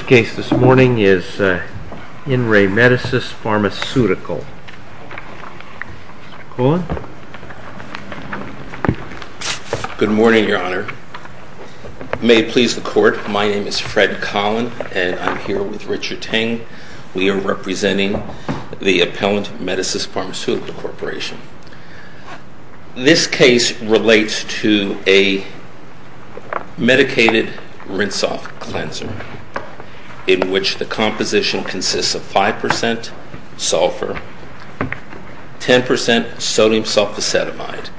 The case this morning is In Re Medicis Pharmaceutical. Mr. Cullen. Good morning, your honor. May it please the court, my name is Fred Cullen and I'm here with Richard Tang. We are representing the Appellant Medicis Pharmaceutical Corporation. This case relates to a medicated rinse-off cleanser in which the composition consists of 5% sulfur, 10% sodium sulfosetamide.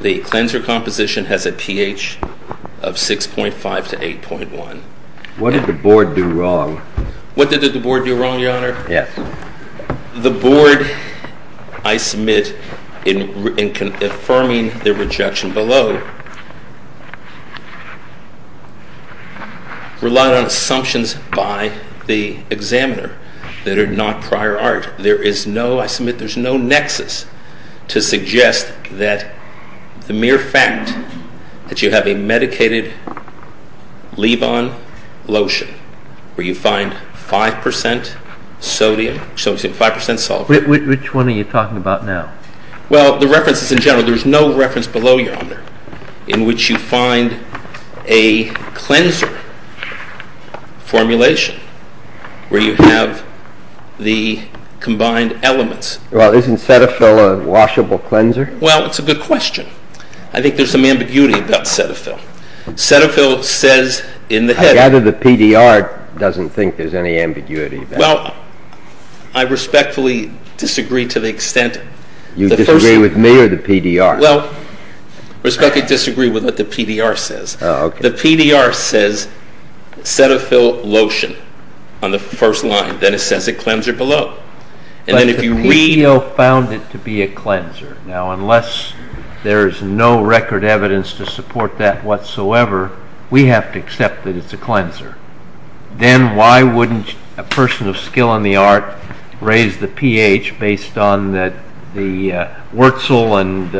The cleanser composition has a pH of 6.5 to 8.1. What did the board do wrong? What did the board do wrong, your honor? Yes. The board, I submit, in affirming the rejection below, relied on assumptions by the examiner that are not prior art. There is no, I submit, there is no nexus to suggest that the mere fact that you have a medicated leave-on lotion where you find 5% sodium, 5% sulfur. Which one are you talking about now? Well, the references in general, there's no reference below, your honor, in which you find a cleanser formulation where you have the combined elements. Well, isn't Cetaphil a washable cleanser? Well, it's a good question. I think there's some ambiguity about Cetaphil. Cetaphil says in the head... I gather the PDR doesn't think there's any ambiguity about it. Well, I respectfully disagree to the extent... You disagree with me or the PDR? Well, I respectfully disagree with what the PDR says. Oh, okay. The PDR says Cetaphil lotion on the first line, then it says a cleanser below. But the PDO found it to be a cleanser. Now, unless there is no record evidence to support that whatsoever, we have to accept that it's a cleanser. Then why wouldn't a person of skill in the art raise the pH based on the Wurzel and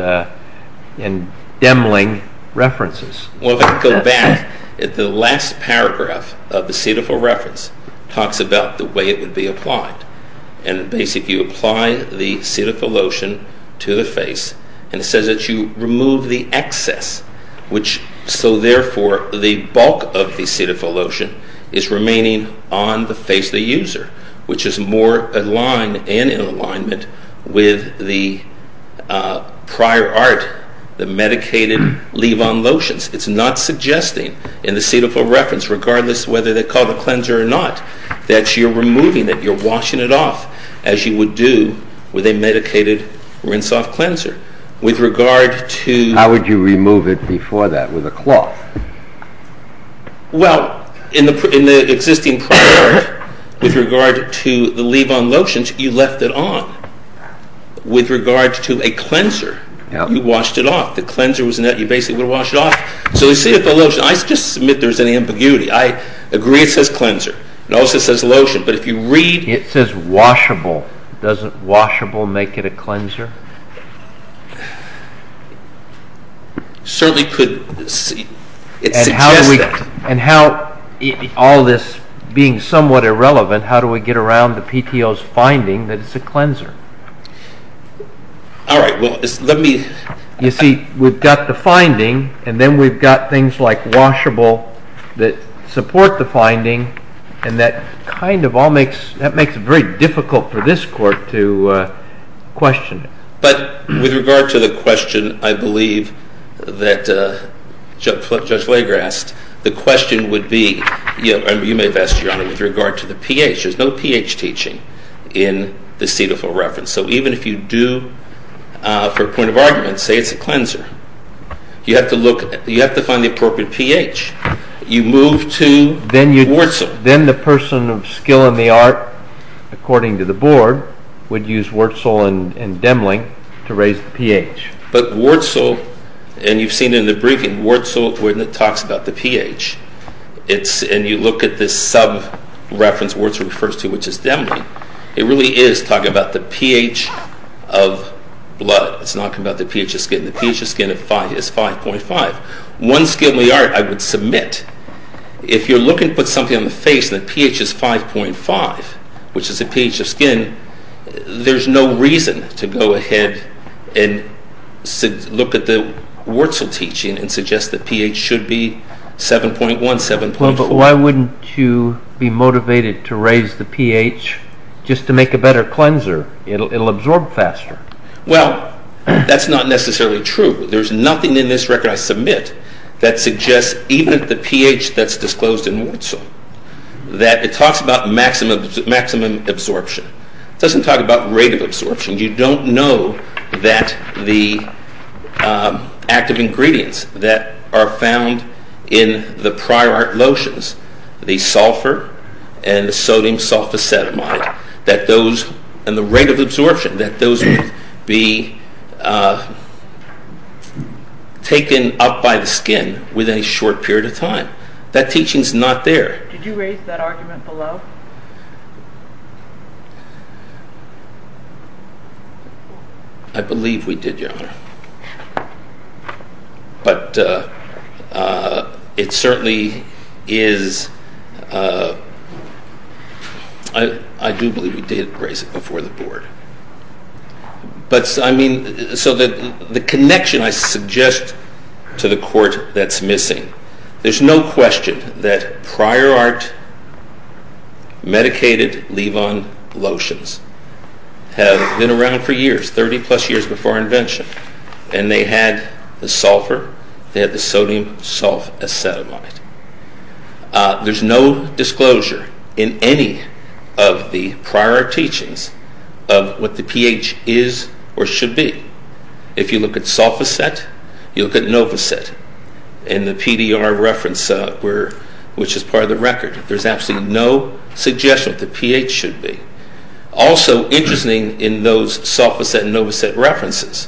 Demling references? Well, if I could go back, the last paragraph of the Cetaphil reference talks about the way it would be applied. And basically you apply the Cetaphil lotion to the face, and it says that you remove the excess. So therefore, the bulk of the Cetaphil lotion is remaining on the face of the user, which is more aligned and in alignment with the prior art, the medicated leave-on lotions. It's not suggesting in the Cetaphil reference, regardless of whether they call it a cleanser or not, that you're removing it, you're washing it off, as you would do with a medicated rinse-off cleanser. How would you remove it before that, with a cloth? Well, in the existing prior art, with regard to the leave-on lotions, you left it on. With regard to a cleanser, you washed it off. The cleanser, you basically would wash it off. So the Cetaphil lotion, I just submit there's an ambiguity. I agree it says cleanser. It also says lotion. It says washable. Doesn't washable make it a cleanser? All this being somewhat irrelevant, how do we get around the PTO's finding that it's a cleanser? You see, we've got the finding, and then we've got things like washable that support the finding, and that kind of all makes it very difficult for this Court to question it. But with regard to the question, I believe that Judge Lager asked, the question would be, you may have asked, Your Honor, with regard to the pH. There's no pH teaching in the Cetaphil reference. So even if you do, for a point of argument, say it's a cleanser, you have to find the appropriate pH. You move to Wurzel. Then the person of skill in the art, according to the Board, would use Wurzel and Demling to raise the pH. But Wurzel, and you've seen in the briefing, Wurzel when it talks about the pH, and you look at this sub-reference Wurzel refers to, which is Demling, it really is talking about the pH of blood. It's not talking about the pH of skin. The pH of skin is 5.5. One skill in the art I would submit. If you're looking to put something on the face and the pH is 5.5, which is the pH of skin, there's no reason to go ahead and look at the Wurzel teaching and suggest the pH should be 7.1, 7.4. Well, but why wouldn't you be motivated to raise the pH just to make a better cleanser? It'll absorb faster. Well, that's not necessarily true. There's nothing in this record I submit that suggests even at the pH that's disclosed in Wurzel that it talks about maximum absorption. It doesn't talk about rate of absorption. You don't know that the active ingredients that are found in the prior art lotions, the sulfur and the sodium sulfosetamide, and the rate of absorption, that those would be taken up by the skin within a short period of time. That teaching's not there. Did you raise that argument below? I believe we did, Your Honor. But it certainly is, I do believe we did raise it before the board. But, I mean, so the connection I suggest to the court that's missing, there's no question that prior art medicated leave-on lotions have been around for years, 30-plus years before invention, and they had the sulfur, they had the sodium sulfosetamide. There's no disclosure in any of the prior art teachings of what the pH is or should be. If you look at sulfoset, you look at novoset in the PDR reference, which is part of the record. There's absolutely no suggestion of what the pH should be. Also interesting in those sulfoset and novoset references,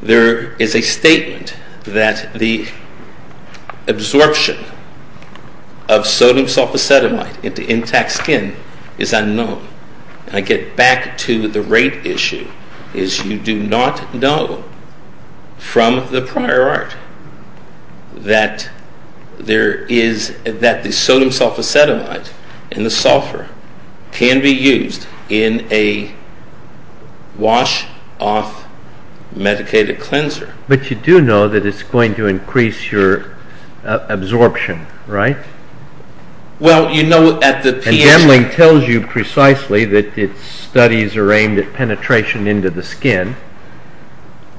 there is a statement that the absorption of sodium sulfosetamide into intact skin is unknown. And I get back to the rate issue, is you do not know from the prior art that there is, that the sodium sulfosetamide and the sulfur can be used in a wash-off medicated cleanser. But you do know that it's going to increase your absorption, right? Well, you know at the pH... And Jemling tells you precisely that its studies are aimed at penetration into the skin.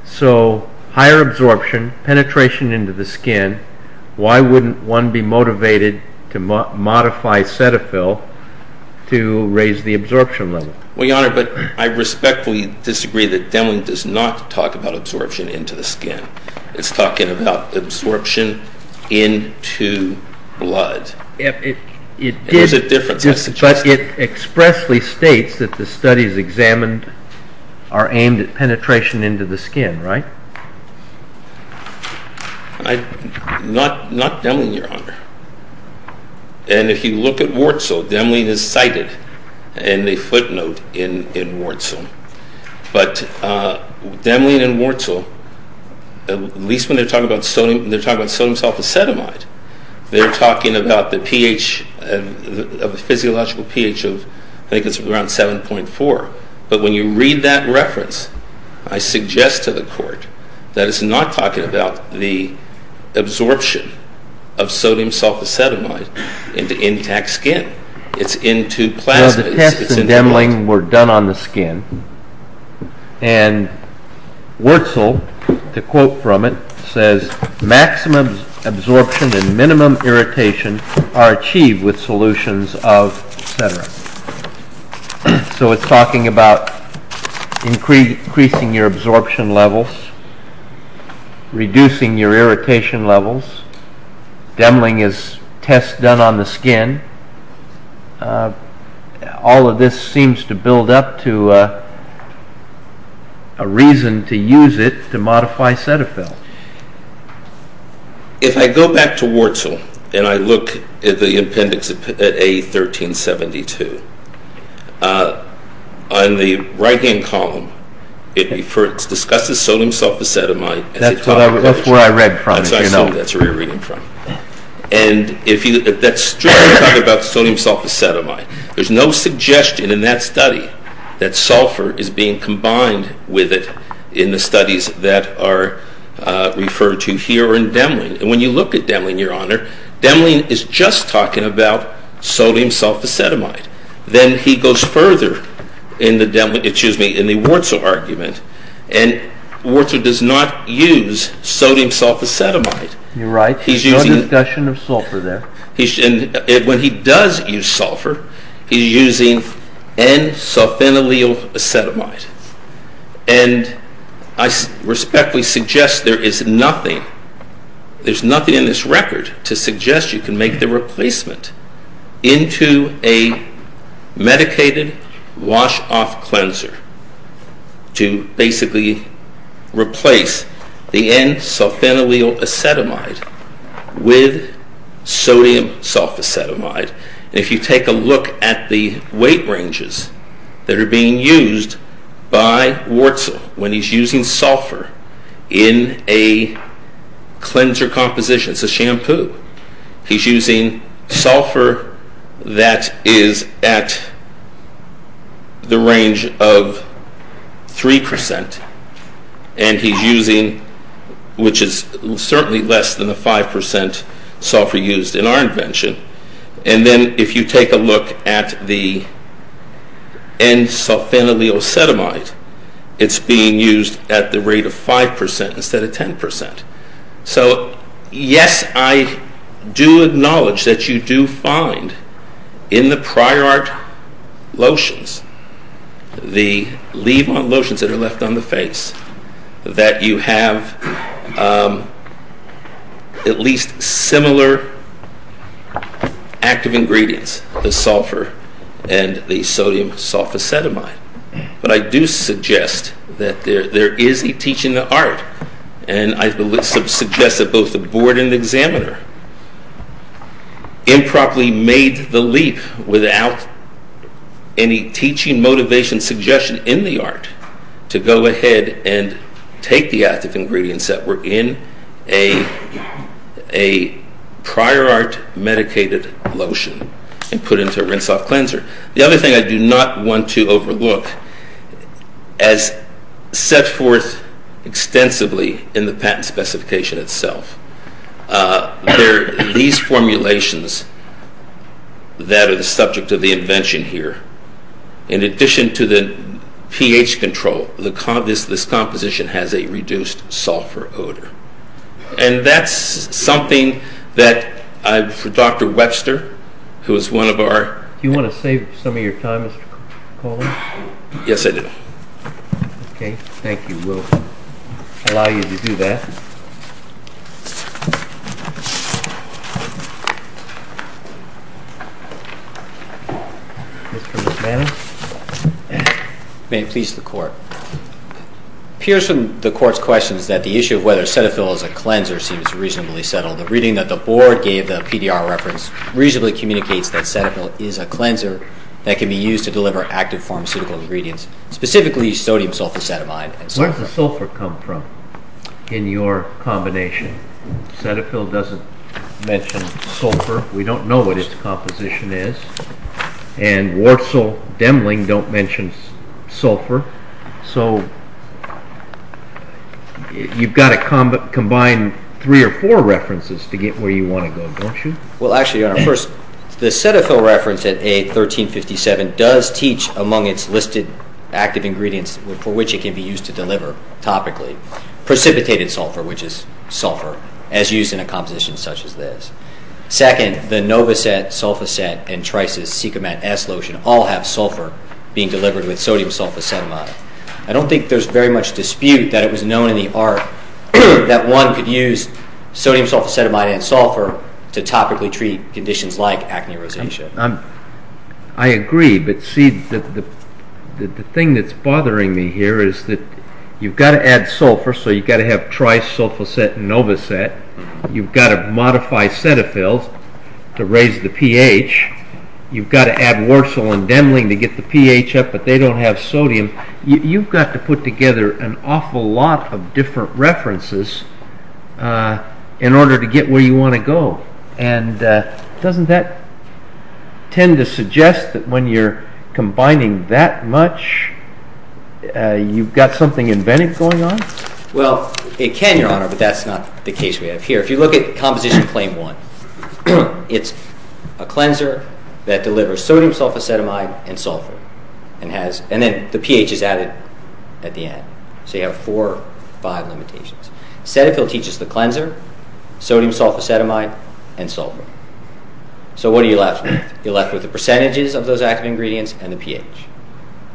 So higher absorption, penetration into the skin, why wouldn't one be motivated to modify Cetaphil to raise the absorption level? Well, Your Honor, but I respectfully disagree that Jemling does not talk about absorption into the skin. It's talking about absorption into blood. There's a difference, I suggest. But it expressly states that the studies examined are aimed at penetration into the skin, right? Not Jemling, Your Honor. And if you look at Wurtzel, Jemling is cited in a footnote in Wurtzel. But Jemling and Wurtzel, at least when they're talking about sodium sulfosetamide, they're talking about the physiological pH of, I think it's around 7.4. But when you read that reference, I suggest to the Court that it's not talking about the absorption of sodium sulfosetamide into intact skin. It's into plasma. No, the tests in Jemling were done on the skin. And Wurtzel, to quote from it, says, maximum absorption and minimum irritation are achieved with solutions of Cetera. So it's talking about increasing your absorption levels, reducing your irritation levels. Jemling is tests done on the skin. All of this seems to build up to a reason to use it to modify Cetaphil. If I go back to Wurtzel and I look at the appendix at A1372, on the right-hand column it discusses sodium sulfosetamide. That's where I read from. That's where you're reading from. And that's strictly talking about sodium sulfosetamide. There's no suggestion in that study that sulfur is being combined with it in the studies that are referred to here or in Jemling. And when you look at Jemling, Your Honor, Jemling is just talking about sodium sulfosetamide. Then he goes further in the Wurtzel argument, and Wurtzel does not use sodium sulfosetamide. You're right. There's no discussion of sulfur there. When he does use sulfur, he's using N-sulfenylylacetamide. And I respectfully suggest there is nothing in this record to suggest you can make the replacement into a medicated wash-off cleanser to basically replace the N-sulfenylylacetamide with sodium sulfosetamide. And if you take a look at the weight ranges that are being used by Wurtzel when he's using sulfur in a cleanser composition, it's a shampoo, he's using sulfur that is at the range of 3%, and he's using, which is certainly less than the 5% sulfur used in our invention. And then if you take a look at the N-sulfenylylacetamide, it's being used at the rate of 5% instead of 10%. So, yes, I do acknowledge that you do find in the prior art lotions, the leave-on lotions that are left on the face, that you have at least similar active ingredients, the sulfur and the sodium sulfosetamide. But I do suggest that there is a teaching of art, and I suggest that both the board and the examiner improperly made the leap without any teaching motivation suggestion in the art to go ahead and take the active ingredients that were in a prior art medicated lotion and put it into a rinse-off cleanser. The other thing I do not want to overlook, as set forth extensively in the patent specification itself, there are these formulations that are the subject of the invention here. In addition to the pH control, this composition has a reduced sulfur odor. And that's something that for Dr. Webster, who is one of our... Do you want to save some of your time, Mr. Coley? Yes, I do. Okay, thank you. We'll allow you to do that. Mr. McManus? May it please the Court. It appears from the Court's questions that the issue of whether Cetaphil is a cleanser seems reasonably settled. The reading that the board gave, the PDR reference, reasonably communicates that Cetaphil is a cleanser that can be used to deliver active pharmaceutical ingredients, specifically sodium sulfosetamide and sulfur. Where does the sulfur come from in your combination? Cetaphil doesn't mention sulfur. We don't know what its composition is. And Warsaw Demling don't mention sulfur. So you've got to combine three or four references to get where you want to go, don't you? Well, actually, Your Honor, first, the Cetaphil reference at A1357 does teach among its listed active ingredients for which it can be used to deliver topically, precipitated sulfur, which is sulfur, as used in a composition such as this. Second, the Novoset, Sulfoset, and Trice's Cicumat S lotion all have sulfur being delivered with sodium sulfosetamide. I don't think there's very much dispute that it was known in the art that one could use sodium sulfosetamide and sulfur to topically treat conditions like acne rosacea. I agree, but see, the thing that's bothering me here is that you've got to add sulfur, so you've got to have Trice, Sulfoset, and Novoset. You've got to modify Cetaphil to raise the pH. You've got to add Warsaw and Demling to get the pH up, but they don't have sodium. You've got to put together an awful lot of different references in order to get where you want to go. Doesn't that tend to suggest that when you're combining that much, you've got something inventive going on? Well, it can, Your Honor, but that's not the case we have here. If you look at Composition Claim 1, it's a cleanser that delivers sodium sulfosetamide and sulfur, and then the pH is added at the end. So you have four or five limitations. Cetaphil teaches the cleanser, sodium sulfosetamide, and sulfur. So what are you left with? You're left with the percentages of those active ingredients and the pH.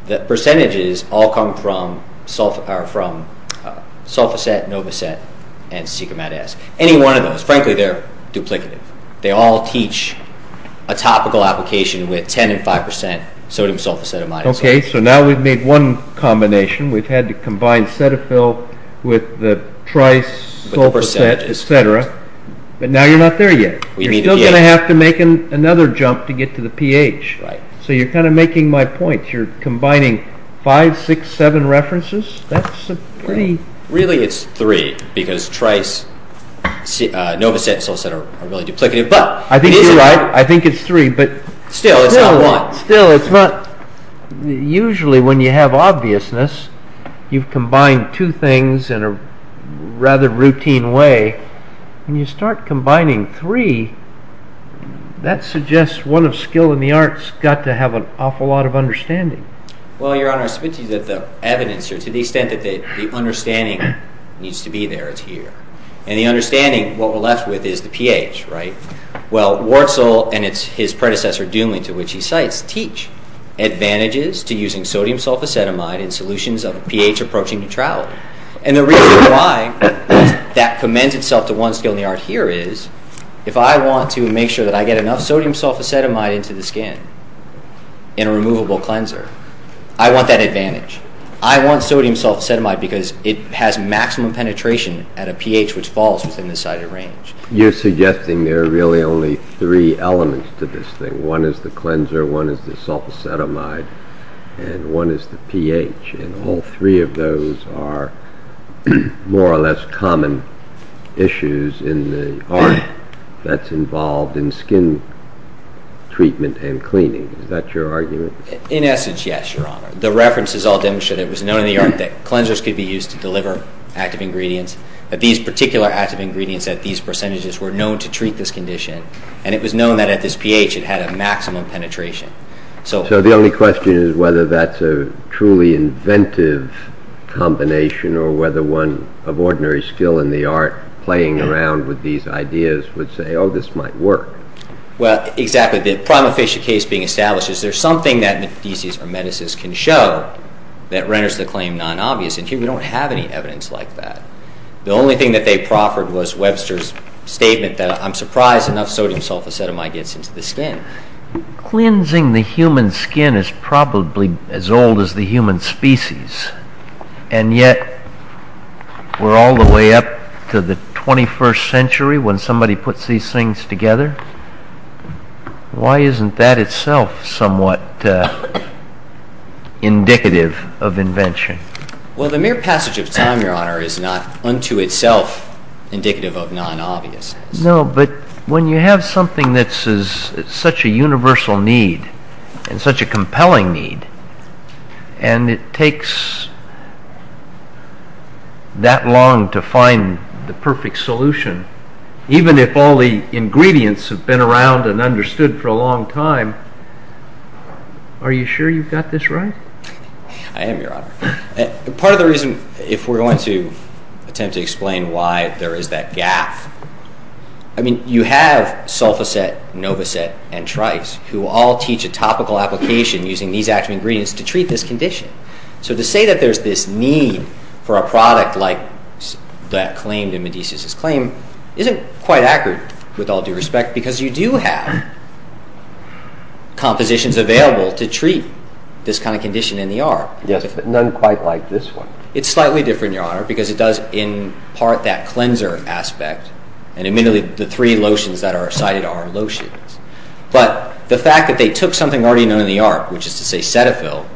The percentages all come from Sulfoset, Novoset, and Sicomat-S. Any one of those. Frankly, they're duplicative. They all teach a topical application with 10% and 5% sodium sulfosetamide. Okay, so now we've made one combination. We've had to combine Cetaphil with the trisulfosetamide, etc., but now you're not there yet. You're still going to have to make another jump to get to the pH. So you're kind of making my point. You're combining five, six, seven references? Really, it's three because tris, Novoset, and Sulfoset are really duplicative. I think it's three. Still, it's not one. Usually, when you have obviousness, you've combined two things in a rather routine way. When you start combining three, that suggests one of skill in the arts got to have an awful lot of understanding. Well, Your Honor, I submit to you that the evidence, or to the extent that the understanding needs to be there, it's here. And the understanding, what we're left with is the pH, right? Well, Wurzel and his predecessor, Doomley, to which he cites, teach advantages to using sodium sulfosetamide in solutions of a pH approaching neutrality. And the reason why that commends itself to one skill in the art here is if I want to make sure that I get enough sodium sulfosetamide into the skin in a removable cleanser, I want that advantage. I want sodium sulfosetamide because it has maximum penetration at a pH which falls within the sighted range. You're suggesting there are really only three elements to this thing. One is the cleanser, one is the sulfosetamide, and one is the pH. And all three of those are more or less common issues in the art that's involved in skin treatment and cleaning. Is that your argument? In essence, yes, Your Honor. The references all demonstrate it was known in the art that cleansers could be used to deliver active ingredients, that these particular active ingredients at these percentages were known to treat this condition, and it was known that at this pH it had a maximum penetration. So the only question is whether that's a truly inventive combination or whether one of ordinary skill in the art playing around with these ideas would say, oh, this might work. Well, exactly. The prima facie case being established, is there something that the thesis or menaces can show that renders the claim non-obvious? And here we don't have any evidence like that. The only thing that they proffered was Webster's statement that, I'm surprised enough sodium sulfosetamide gets into the skin. Cleansing the human skin is probably as old as the human species, and yet we're all the way up to the 21st century when somebody puts these things together. Why isn't that itself somewhat indicative of invention? Well, the mere passage of time, Your Honor, is not unto itself indicative of non-obvious. No, but when you have something that's such a universal need and such a compelling need, and it takes that long to find the perfect solution, even if all the ingredients have been around and understood for a long time, are you sure you've got this right? I am, Your Honor. Part of the reason, if we're going to attempt to explain why there is that gap, I mean, you have sulfoset, novoset, and trikes, who all teach a topical application using these active ingredients to treat this condition. So to say that there's this need for a product like that claimed in Medici's claim isn't quite accurate, with all due respect, because you do have compositions available to treat this kind of condition in the arm. Yes, but none quite like this one. It's slightly different, Your Honor, because it does impart that cleanser aspect, and immediately the three lotions that are cited are lotions. But the fact that they took something already known in the arm, which is to say Cetaphil,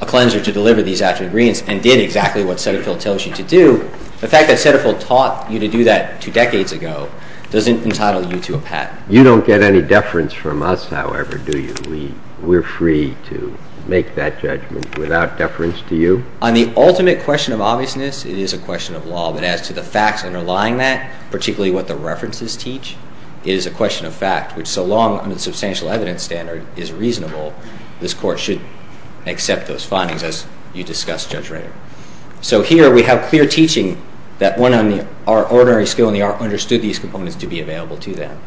a cleanser to deliver these active ingredients, and did exactly what Cetaphil tells you to do, the fact that Cetaphil taught you to do that two decades ago doesn't entitle you to a patent. You don't get any deference from us, however, do you? We're free to make that judgment without deference to you? On the ultimate question of obviousness, it is a question of law, but as to the facts underlying that, particularly what the references teach, it is a question of fact, which so long as the substantial evidence standard is reasonable, this Court should accept those findings, as you discussed, Judge Rader. So here we have clear teaching that one on the ordinary skill in the art understood these components to be available to them.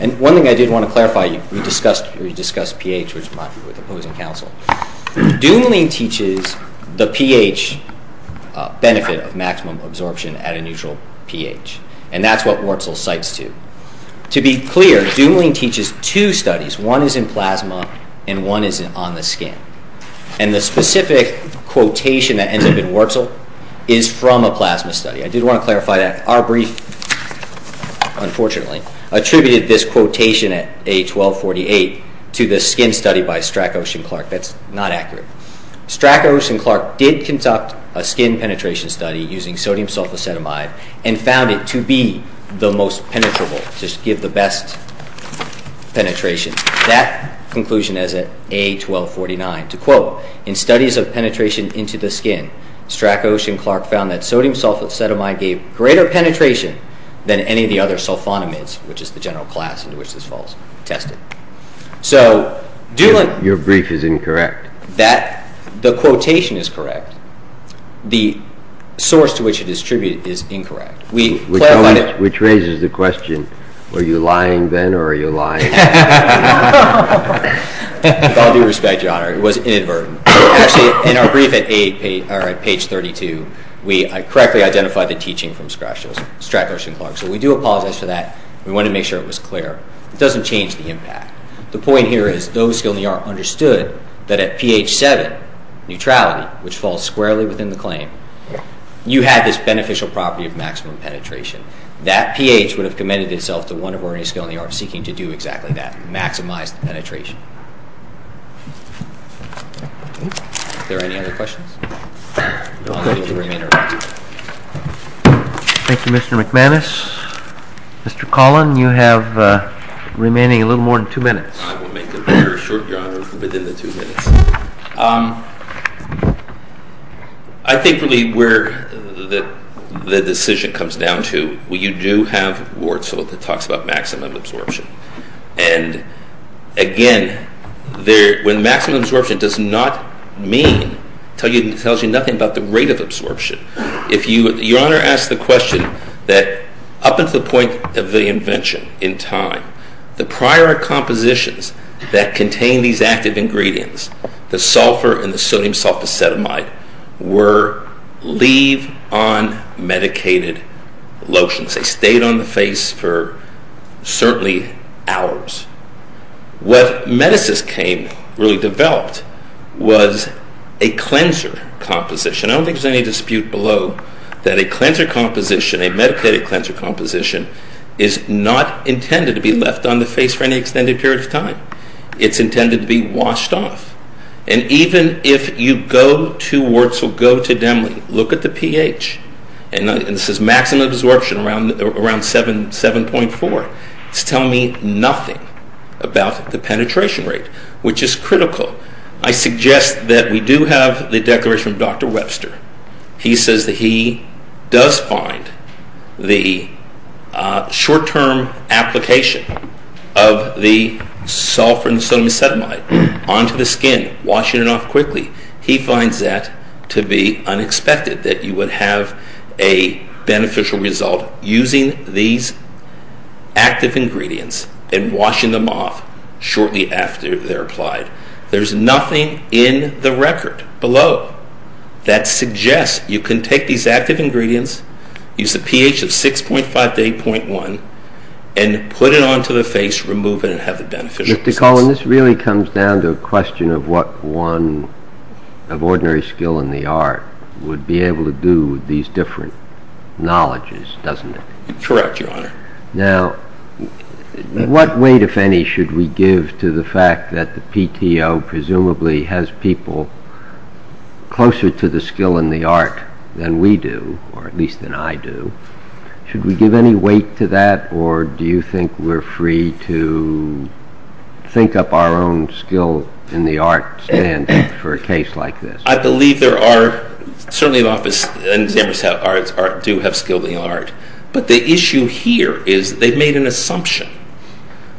And one thing I did want to clarify, you discussed pH, which might be with opposing counsel. Dumoulin teaches the pH benefit of maximum absorption at a neutral pH, and that's what Wurtzel cites too. To be clear, Dumoulin teaches two studies. One is in plasma and one is on the skin. And the specific quotation that ends up in Wurtzel is from a plasma study. I did want to clarify that. Our brief, unfortunately, attributed this quotation at A1248 to the skin study by Strakos and Clark. That's not accurate. Strakos and Clark did conduct a skin penetration study using sodium sulfosetamide and found it to be the most penetrable, to give the best penetration. That conclusion is at A1249. To quote, in studies of penetration into the skin, Strakos and Clark found that sodium sulfosetamide gave greater penetration than any of the other sulfonamides, which is the general class into which this falls, tested. So Dumoulin— Your brief is incorrect. The quotation is correct. The source to which it is attributed is incorrect. Which raises the question, were you lying then or are you lying now? With all due respect, Your Honor, it was inadvertent. Actually, in our brief at page 32, we correctly identified the teaching from Strakos and Clark. So we do apologize for that. We wanted to make sure it was clear. It doesn't change the impact. The point here is those skilled in the art understood that at pH 7, neutrality, which falls squarely within the claim, you had this beneficial property of maximum penetration. That pH would have committed itself to one of our skilled in the art seeking to do exactly that, maximize the penetration. Are there any other questions? Thank you, Mr. McManus. Mr. Collin, you have remaining a little more than two minutes. I will make it very short, Your Honor, within the two minutes. I think really where the decision comes down to, you do have Wurtzel that talks about maximum absorption. And again, when maximum absorption does not mean, tells you nothing about the rate of absorption. Your Honor asked the question that up until the point of the invention in time, the prior compositions that contain these active ingredients, the sulfur and the sodium sulfosetamide, were leave on medicated lotions. They stayed on the face for certainly hours. What medicines came, really developed, was a cleanser composition. I don't think there's any dispute below that a cleanser composition, a medicated cleanser composition, is not intended to be left on the face for any extended period of time. It's intended to be washed off. And even if you go to Wurtzel, go to Demling, look at the pH, and this is maximum absorption around 7.4, it's telling me nothing about the penetration rate, which is critical. I suggest that we do have the declaration of Dr. Webster. He says that he does find the short-term application of the sulfur and sodium sulfosetamide onto the skin, washing it off quickly, he finds that to be unexpected, that you would have a beneficial result using these active ingredients and washing them off shortly after they're applied. There's nothing in the record below that suggests you can take these active ingredients, use the pH of 6.5 to 8.1, and put it onto the face, remove it, and have the beneficial results. Mr. Cullen, this really comes down to a question of what one of ordinary skill in the art would be able to do with these different knowledges, doesn't it? Correct, Your Honor. Now, what weight, if any, should we give to the fact that the PTO presumably has people closer to the skill in the art than we do, or at least than I do? Should we give any weight to that, or do you think we're free to think up our own skill in the art standard for a case like this? I believe there are, certainly in the Office of Enzyme Reset Arts, do have skill in the art, but the issue here is they've made an assumption.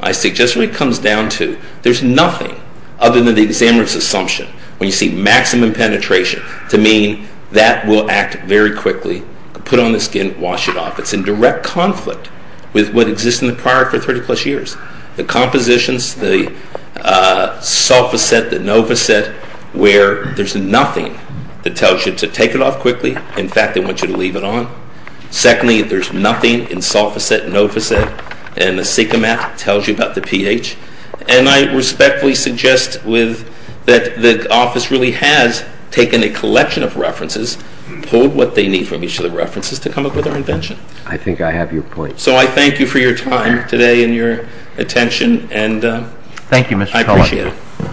I suggest what it comes down to, there's nothing other than the examiner's assumption, when you see maximum penetration, to mean that will act very quickly, put on the skin, wash it off. It's in direct conflict with what exists in the prior for 30-plus years. The compositions, the sulfaset, the novaset, where there's nothing that tells you to take it off quickly. In fact, they want you to leave it on. Secondly, there's nothing in sulfaset, novaset, and the sica mat tells you about the pH. And I respectfully suggest that the office really has taken a collection of references, pulled what they need from each of the references to come up with our invention. I think I have your point. So I thank you for your time today and your attention, and I appreciate it. Thank you, Mr. Collard.